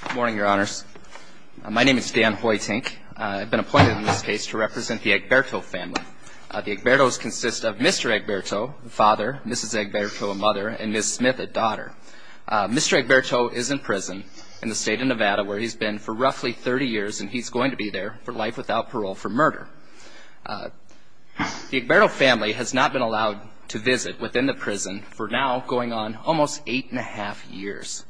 Good morning, your honors. My name is Dan Hoytink. I've been appointed in this case to represent the Egberto family. The Egberto's consist of Mr. Egberto, a father, Mrs. Egberto, a mother, and Ms. Smith, a daughter. Mr. Egberto is in prison in the state of Nevada where he's been for roughly 30 years and he's going to be there for life without parole for murder. The Egberto family has not been allowed to visit within the prison for now going on almost eight and a half years.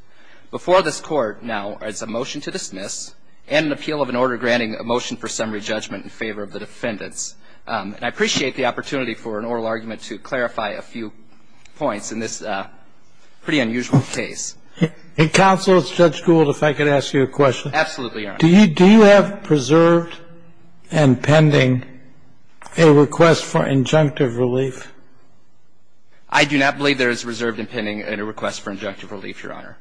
Before this Court now is a motion to dismiss and an appeal of an order granting a motion for summary judgment in favor of the defendants. And I appreciate the opportunity for an oral argument to clarify a few points in this pretty unusual case. In counsel, if Judge Gould, if I could ask you a question. Absolutely, your honor. Do you have preserved and pending a request for injunctive relief? I do not believe there is preserved and pending a request for injunctive relief, your honor.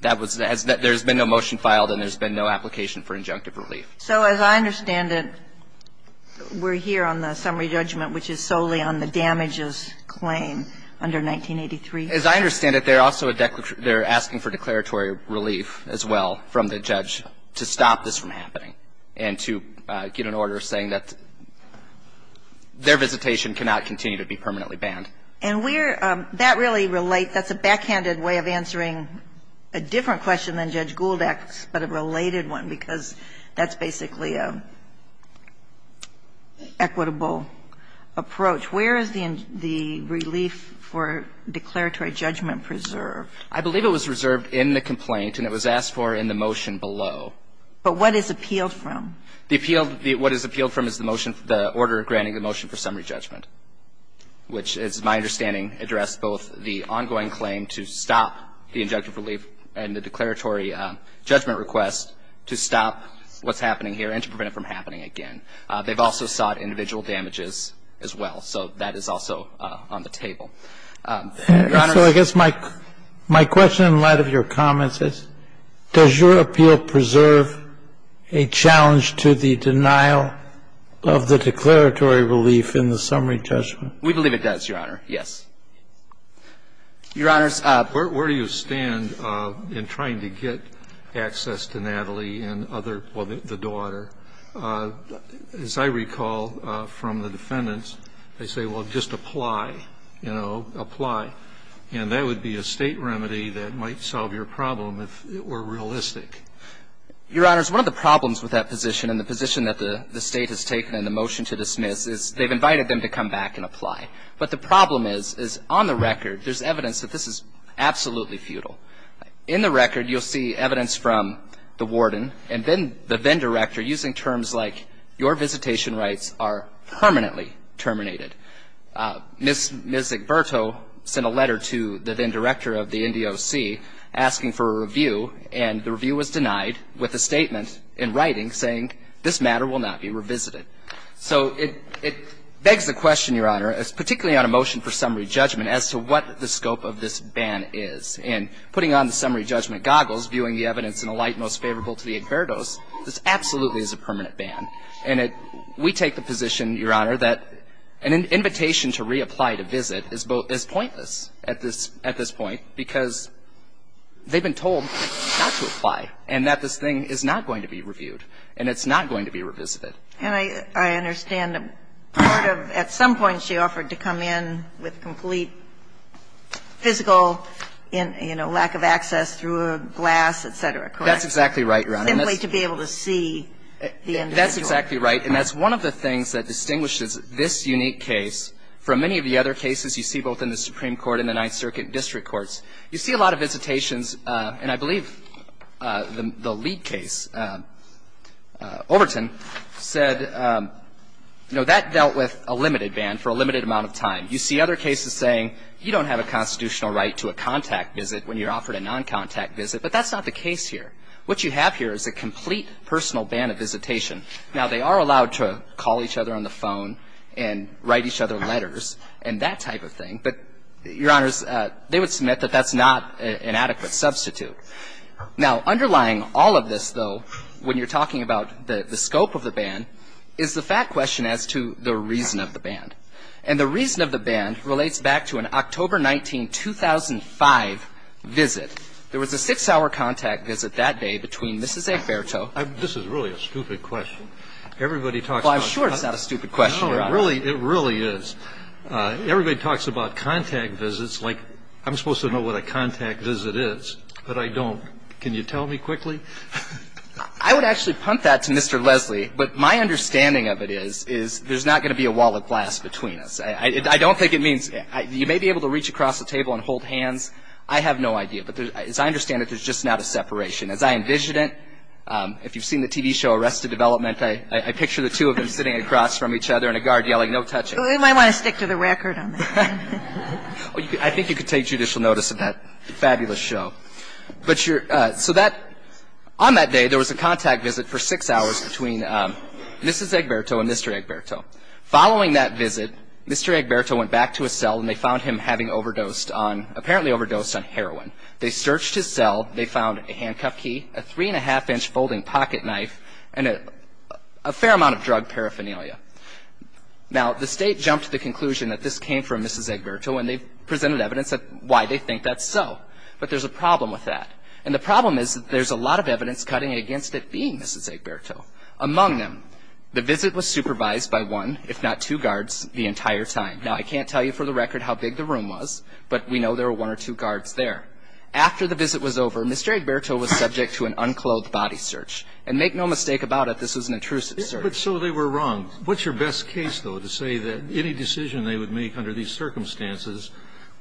That was as there's been no motion filed and there's been no application for injunctive relief. So as I understand it, we're here on the summary judgment which is solely on the damages claim under 1983? As I understand it, they're also a declaration they're asking for declaratory relief as well from the judge to stop this from happening and to get an order saying that their visitation cannot continue to be permanently banned. And we're, that really relates, that's a backhanded way of answering a different question than Judge Gould asks, but a related one because that's basically an equitable approach. Where is the relief for declaratory judgment preserved? I believe it was reserved in the complaint and it was asked for in the motion below. But what is appealed from? The appeal, what is appealed from is the motion, the order granting the motion for summary judgment, which is my understanding addressed both the ongoing claim to stop the injunctive relief and the declaratory judgment request to stop what's happening here and to prevent it from happening again. They've also sought individual damages as well. So that is also on the table. Your honor. So I guess my question in light of your comments is, does your appeal preserve a challenge to the denial of the declaratory relief in the summary judgment? We believe it does, Your Honor, yes. Your Honor, where do you stand in trying to get access to Natalie and other, well, the daughter? As I recall from the defendants, they say, well, just apply, you know, apply. And that would be a State remedy that might solve your problem if it were realistic. Your Honor, one of the problems with that position and the position that the State has taken in the motion to dismiss is they've invited them to come back and apply. But the problem is, is on the record there's evidence that this is absolutely futile. In the record you'll see evidence from the warden and then the then-director using terms like your visitation rights are permanently terminated. Ms. Egberto sent a letter to the then-director of the NDOC asking for a review and the review was denied with a statement in writing saying this matter will not be revisited. So it begs the question, Your Honor, particularly on a motion for summary judgment as to what the scope of this ban is. And putting on the summary judgment goggles, viewing the evidence in a light most favorable to the Egberto's, this absolutely is a permanent ban. And we take the position, Your Honor, that an invitation to reapply to visit is pointless at this point because they've been told not to apply and that this thing is not going to be reviewed and it's not going to be revisited. And I understand a part of at some point she offered to come in with complete physical, you know, lack of access through a glass, et cetera, correct? That's exactly right, Your Honor. Simply to be able to see the individual. And that's exactly right. And that's one of the things that distinguishes this unique case from many of the other cases you see both in the Supreme Court and the Ninth Circuit and district courts. You see a lot of visitations, and I believe the lead case, Overton, said, you know, that dealt with a limited ban for a limited amount of time. You see other cases saying you don't have a constitutional right to a contact visit when you're offered a noncontact visit, but that's not the case here. What you have here is a complete personal ban of visitation. Now, they are allowed to call each other on the phone and write each other letters and that type of thing, but, Your Honors, they would submit that that's not an adequate substitute. Now, underlying all of this, though, when you're talking about the scope of the ban is the fact question as to the reason of the ban. And the reason of the ban relates back to an October 19, 2005 visit. There was a six-hour contact visit that day between Mrs. Efferto. This is really a stupid question. Everybody talks about it. Well, I'm sure it's not a stupid question, Your Honor. No, it really is. Everybody talks about contact visits like I'm supposed to know what a contact visit is, but I don't. Can you tell me quickly? I would actually punt that to Mr. Leslie, but my understanding of it is, is there's not going to be a wall of glass between us. I don't think it means you may be able to reach across the table and hold hands. I have no idea. But as I understand it, there's just not a separation. As I envision it, if you've seen the TV show Arrested Development, I picture the two of them sitting across from each other and a guard yelling, no touching. We might want to stick to the record on that. I think you could take judicial notice of that fabulous show. But your – so that – on that day, there was a contact visit for six hours between Mrs. Egberto and Mr. Egberto. Following that visit, Mr. Egberto went back to his cell, and they found him having overdosed on – apparently overdosed on heroin. They searched his cell. They found a handcuff key, a three-and-a-half-inch folding pocket knife, and a fair amount of drug paraphernalia. Now, the State jumped to the conclusion that this came from Mrs. Egberto, and they presented evidence of why they think that's so. But there's a problem with that. And the problem is that there's a lot of evidence cutting against it being Mrs. Egberto. Among them, the visit was supervised by one, if not two, guards the entire time. Now, I can't tell you for the record how big the room was, but we know there were one or two guards there. After the visit was over, Mr. Egberto was subject to an unclothed body search. And make no mistake about it, this was an intrusive search. But so they were wrong. What's your best case, though, to say that any decision they would make under these circumstances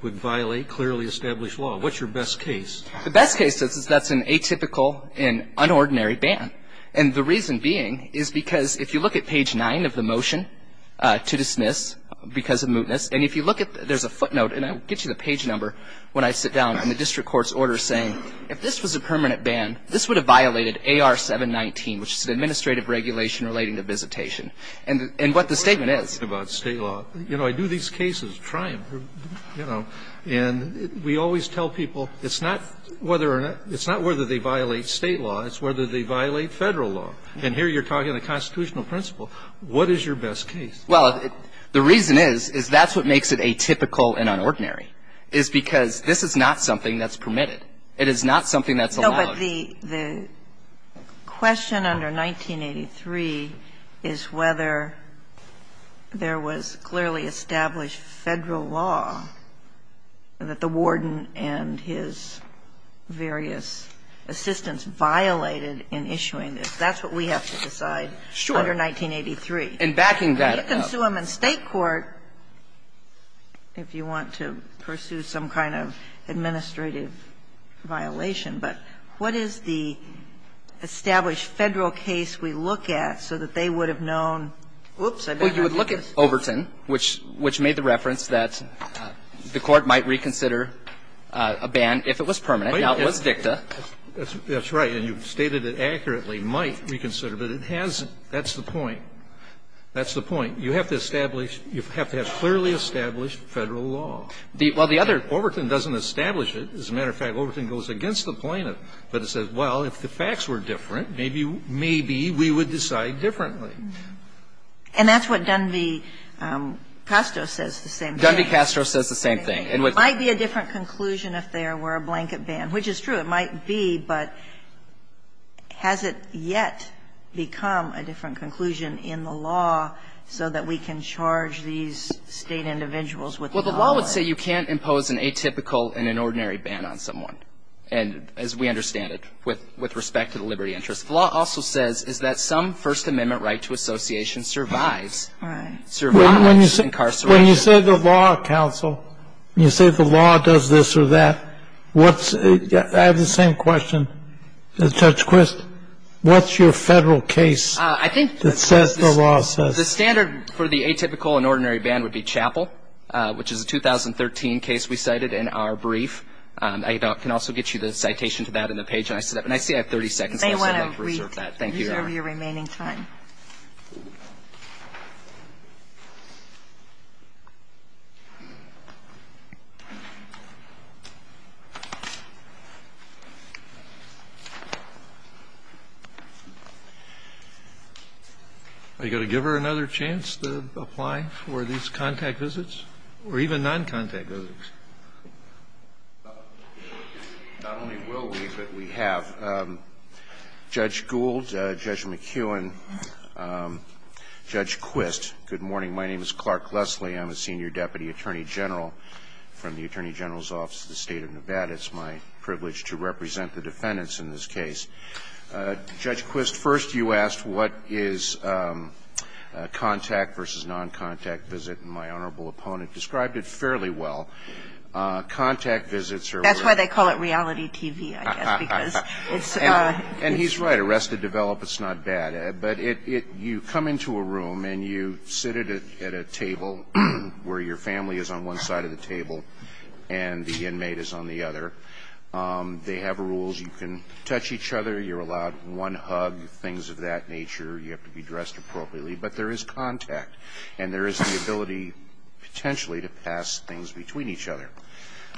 would violate clearly established law? What's your best case? The best case is that's an atypical and unordinary ban. And the reason being is because if you look at page 9 of the motion to dismiss, because of mootness, and if you look at there's a footnote, and I'll get you the page number when I sit down, and the district court's order is saying if this was a permanent ban, this would have violated AR 719, which is an administrative regulation relating to visitation. And what the statement is. You know, I do these cases, try them, you know, and we always tell people it's not whether or not, it's not whether they violate State law, it's whether they violate Federal law. And here you're talking the constitutional principle. What is your best case? Well, the reason is, is that's what makes it atypical and unordinary, is because this is not something that's permitted. It is not something that's allowed. No, but the question under 1983 is whether there was clearly established Federal law that the warden and his various assistants violated in issuing this. That's what we have to decide under 1983. And backing that up. You can sue them in State court if you want to pursue some kind of administrative violation, but what is the established Federal case we look at so that they would have known, oops, I badmouthed this. Well, you would look at Overton, which made the reference that the Court might reconsider a ban if it was permanent, now it was dicta. That's right, and you've stated it accurately, might reconsider, but it hasn't. That's the point. That's the point. You have to establish, you have to have clearly established Federal law. Well, the other, Overton doesn't establish it. As a matter of fact, Overton goes against the plaintiff, but it says, well, if the facts were different, maybe we would decide differently. And that's what Dunby-Castro says the same thing. Dunby-Castro says the same thing. It might be a different conclusion if there were a blanket ban, which is true. It might be, but has it yet become a different conclusion in the law so that we can charge these State individuals with violence? Well, the law would say you can't impose an atypical and an ordinary ban on someone, and as we understand it, with respect to the liberty interest. The law also says is that some First Amendment right to association survives. Right. Survives incarceration. When you say the law, counsel, you say the law does this or that. I have the same question to Judge Quist. What's your Federal case that says the law says? The standard for the atypical and ordinary ban would be Chappell, which is a 2013 case we cited in our brief. I can also get you the citation to that in the page I set up. And I see I have 30 seconds, so I'd like to reserve that. Thank you, Your Honor. I'll reserve your remaining time. Are you going to give her another chance to apply for these contact visits, or even noncontact visits? Not only will we, but we have. Judge Gould, Judge McKeown, Judge Quist, good morning. My name is Clark Leslie. I'm a senior deputy attorney general from the Attorney General's Office of the State of Nevada. It's my privilege to represent the defendants in this case. Judge Quist, first you asked what is contact versus noncontact visit, and my honorable opponent described it fairly well. Contact visits are where they are. That's why they call it reality TV, I guess. And he's right. Arrested develop, it's not bad. But you come into a room and you sit at a table where your family is on one side of the table and the inmate is on the other. They have rules. You can touch each other. You're allowed one hug, things of that nature. You have to be dressed appropriately. But there is contact, and there is the ability potentially to pass things between each other.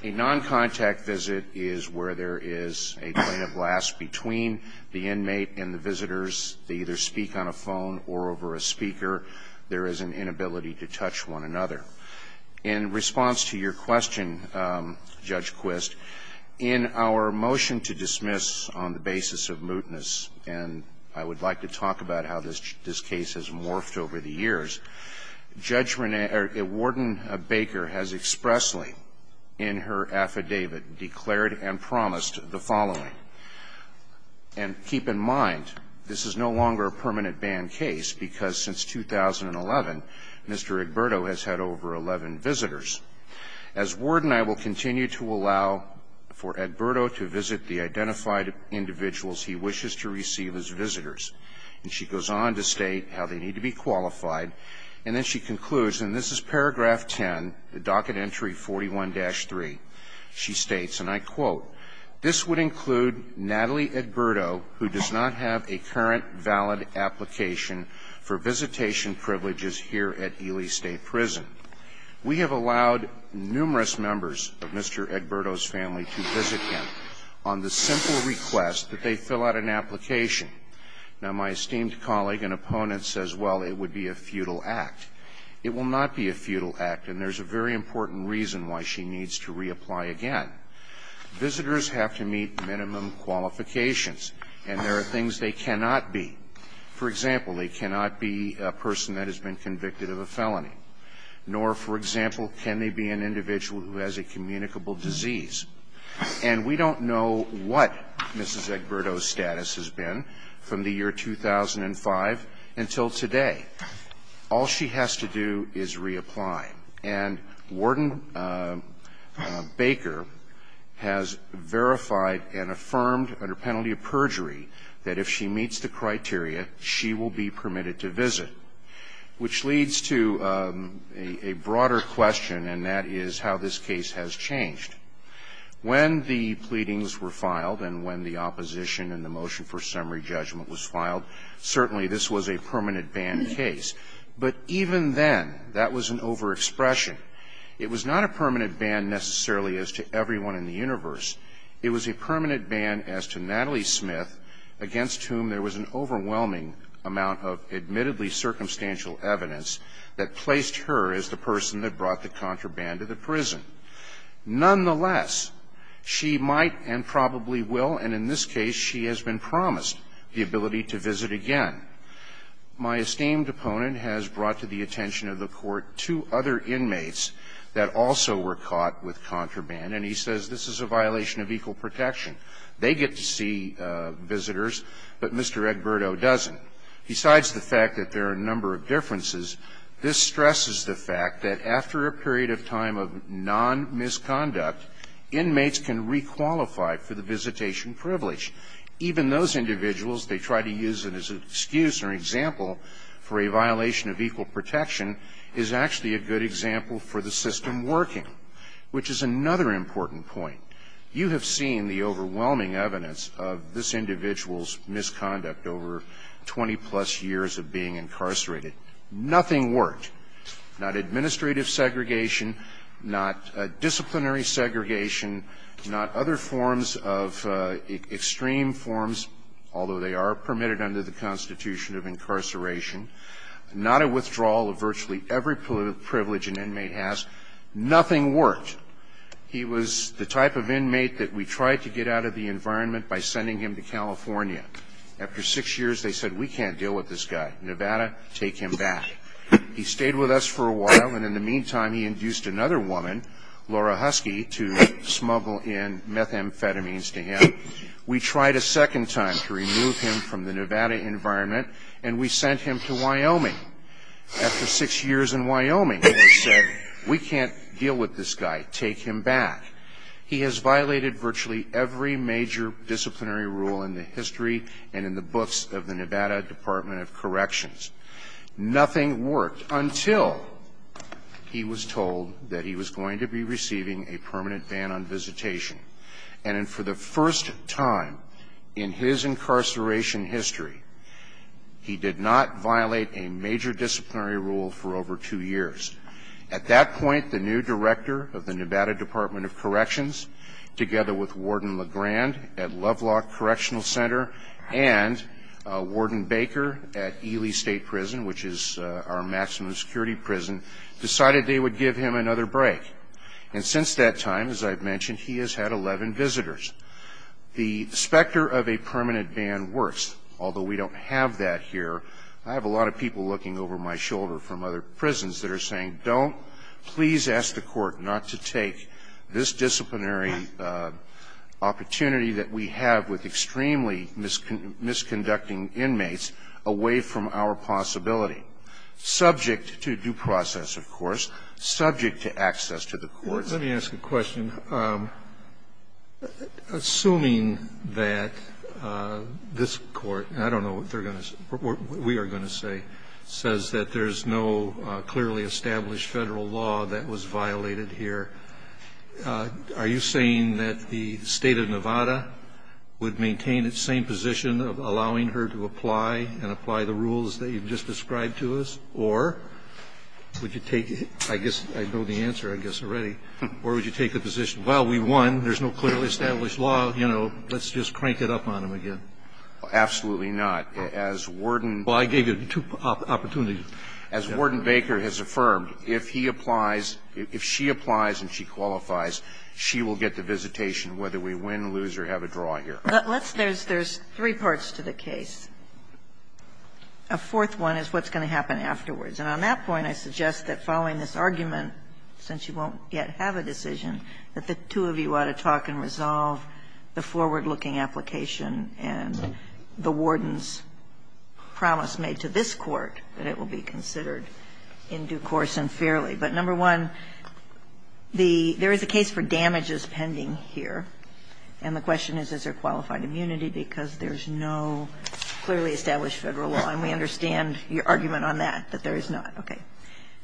A noncontact visit is where there is a point of last between the inmate and the visitors. They either speak on a phone or over a speaker. There is an inability to touch one another. In response to your question, Judge Quist, in our motion to dismiss on the basis of mootness, and I would like to talk about how this case has morphed over the years, Warden Baker has expressly in her affidavit declared and promised the following. And keep in mind, this is no longer a permanent ban case because since 2011, Mr. Edberto has had over 11 visitors. As warden, I will continue to allow for Edberto to visit the identified individuals he wishes to receive as visitors. And she goes on to state how they need to be qualified. And then she concludes, and this is paragraph 10, the docket entry 41-3. She states, and I quote, this would include Natalie Edberto who does not have a current valid application for visitation privileges here at Ely State Prison. We have allowed numerous members of Mr. Edberto's family to visit him on the simple request that they fill out an application. Now, my esteemed colleague and opponent says, well, it would be a futile act. It will not be a futile act, and there's a very important reason why she needs to reapply again. Visitors have to meet minimum qualifications, and there are things they cannot be. For example, they cannot be a person that has been convicted of a felony. Nor, for example, can they be an individual who has a communicable disease. And we don't know what Mrs. Edberto's status has been from the year 2005 until today. All she has to do is reapply. And Warden Baker has verified and affirmed under penalty of perjury that if she meets the criteria, she will be permitted to visit, which leads to a broader question, and that is how this case has changed. When the pleadings were filed and when the opposition and the motion for summary judgment was filed, certainly this was a permanent ban case. But even then, that was an overexpression. It was not a permanent ban necessarily as to everyone in the universe. It was a permanent ban as to Natalie Smith, against whom there was an overwhelming amount of admittedly circumstantial evidence that placed her as the person that brought the contraband to the prison. Nonetheless, she might and probably will, and in this case she has been promised, the ability to visit again. My esteemed opponent has brought to the attention of the Court two other inmates that also were caught with contraband, and he says this is a violation of equal protection. They get to see visitors, but Mr. Edberto doesn't. Besides the fact that there are a number of differences, this stresses the fact that after a period of time of non-misconduct, inmates can re-qualify for the visitation privilege. Even those individuals, they try to use it as an excuse or example for a violation of equal protection, is actually a good example for the system working, which is another important point. You have seen the overwhelming evidence of this individual's misconduct over 20-plus years of being incarcerated. Nothing worked. Not administrative segregation, not disciplinary segregation, not other forms of extreme forms, although they are permitted under the Constitution of incarceration, not a withdrawal of virtually every privilege an inmate has. Nothing worked. He was the type of inmate that we tried to get out of the environment by sending him to California. After six years, they said we can't deal with this guy. Nevada, take him back. He stayed with us for a while, and in the meantime, he induced another woman, Laura Husky, to smuggle in methamphetamines to him. We tried a second time to remove him from the Nevada environment, and we sent him to Wyoming. After six years in Wyoming, they said we can't deal with this guy. Take him back. He has violated virtually every major disciplinary rule in the history and in the books of the Nevada Department of Corrections. Nothing worked until he was told that he was going to be receiving a permanent ban on visitation. And for the first time in his incarceration history, he did not violate a major disciplinary rule for over two years. At that point, the new director of the Nevada Department of Corrections, together with Warden LeGrand at Lovelock Correctional Center and Warden Baker at Ely State Prison, which is our maximum security prison, decided they would give him another break. And since that time, as I've mentioned, he has had 11 visitors. The specter of a permanent ban works, although we don't have that here. I have a lot of people looking over my shoulder from other prisons that are saying, don't, please ask the Court not to take this disciplinary opportunity that we have with extremely misconducting inmates away from our possibility, subject to due process, of course, subject to access to the courts. Let me ask a question. Assuming that this Court, and I don't know what they're going to say, what we are going to say, says that there's no clearly established Federal law that was violated here, are you saying that the State of Nevada would maintain its same position of allowing her to apply and apply the rules that you've just described to us, or would you take the position, well, we won, there's no clearly established law, you know, let's just crank it up on him again? Absolutely not. As Warden Well, I gave you two opportunities. As Warden Baker has affirmed, if he applies, if she applies and she qualifies, she will get the visitation, whether we win, lose, or have a draw here. Let's, there's, there's three parts to the case. A fourth one is what's going to happen afterwards. And on that point, I suggest that following this argument, since you won't yet have a decision, that the two of you ought to talk and resolve the forward-looking application and the Warden's promise made to this Court that it will be considered in due course and fairly. But, number one, the, there is a case for damages pending here, and the question is, is there qualified immunity, because there's no clearly established Federal law, and we understand your argument on that, that there is not. Okay.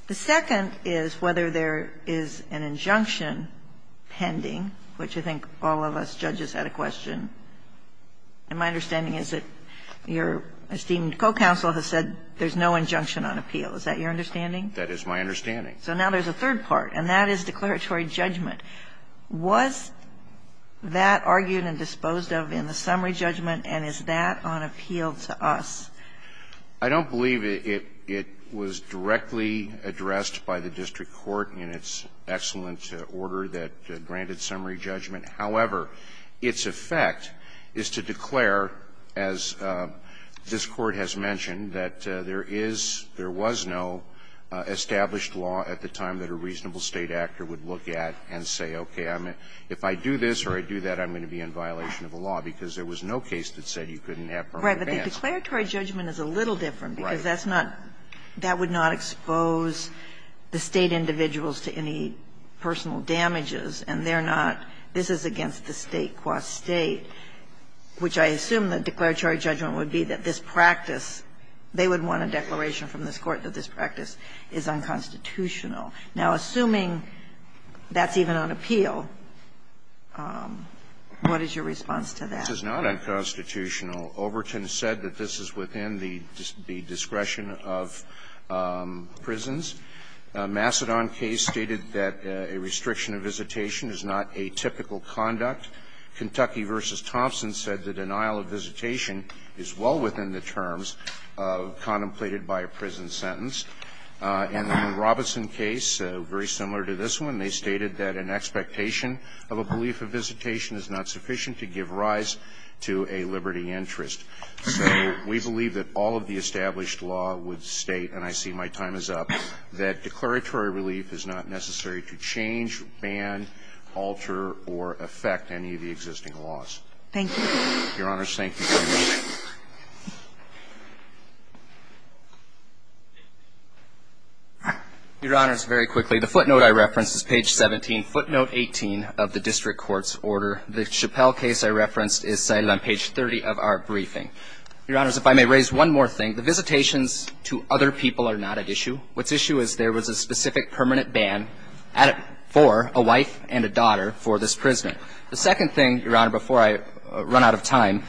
The second is whether there is an injunction pending, which I think all of us judges had a question. And my understanding is that your esteemed co-counsel has said there's no injunction on appeal. Is that your understanding? That is my understanding. So now there's a third part, and that is declaratory judgment. Was that argued and disposed of in the summary judgment, and is that on appeal to us? I don't believe it, it was directly addressed by the district court in its excellent order that granted summary judgment. However, its effect is to declare, as this Court has mentioned, that there is, there was no established law at the time that a reasonable State actor would look at and say, okay, if I do this or I do that, I'm going to be in violation of the law, because there was no case that said you couldn't have permanent ban. Right. But the declaratory judgment is a little different, because that's not, that would not expose the State individuals to any personal damages, and they're not, this is against the State qua State, which I assume the declaratory judgment would be that this practice, they would want a declaration from this Court that this practice is unconstitutional. Now, assuming that's even on appeal, what is your response to that? This is not unconstitutional. Robertson and Overton said that this is within the discretion of prisons. A Macedon case stated that a restriction of visitation is not a typical conduct. Kentucky v. Thompson said the denial of visitation is well within the terms contemplated by a prison sentence. And in the Robertson case, very similar to this one, they stated that an expectation of a belief of visitation is not sufficient to give rise to a liberty interest. So we believe that all of the established law would state, and I see my time is up, that declaratory relief is not necessary to change, ban, alter, or affect any of the existing laws. Thank you. Your Honors, thank you. Your Honors, very quickly, the footnote I referenced is page 17, footnote 18. The footnote 18 of the district court's order, the Chappelle case I referenced, is cited on page 30 of our briefing. Your Honors, if I may raise one more thing, the visitations to other people are not at issue. What's at issue is there was a specific permanent ban for a wife and a daughter for this prisoner. The second thing, Your Honor, before I run out of time,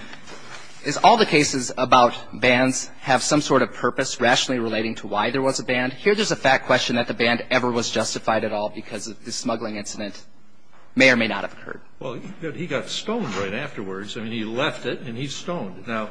is all the cases about bans have some sort of purpose rationally relating to why there was a ban. Here there's a fact question that the ban ever was justified at all because of the reasons that may or may not have occurred. Well, he got stoned right afterwards. I mean, he left it and he's stoned. Now,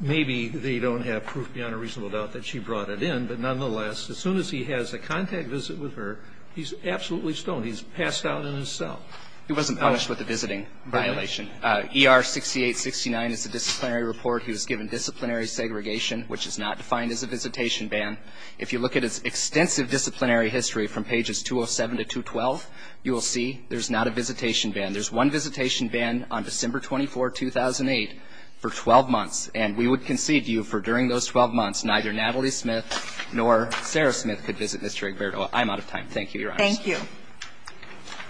maybe they don't have proof beyond a reasonable doubt that she brought it in, but nonetheless, as soon as he has a contact visit with her, he's absolutely stoned. He's passed out in his cell. He wasn't punished with a visiting violation. ER-6869 is a disciplinary report. He was given disciplinary segregation, which is not defined as a visitation ban. If you look at its extensive disciplinary history from pages 207 to 212, you will see there's not a visitation ban. There's one visitation ban on December 24, 2008 for 12 months, and we would concede to you for during those 12 months, neither Natalie Smith nor Sarah Smith could visit Mr. Egberto. I'm out of time. Thank you, Your Honors. Thank you.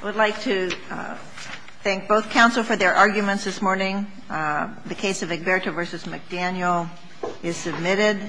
I would like to thank both counsel for their arguments this morning. The case of Egberto v. McDaniel is submitted.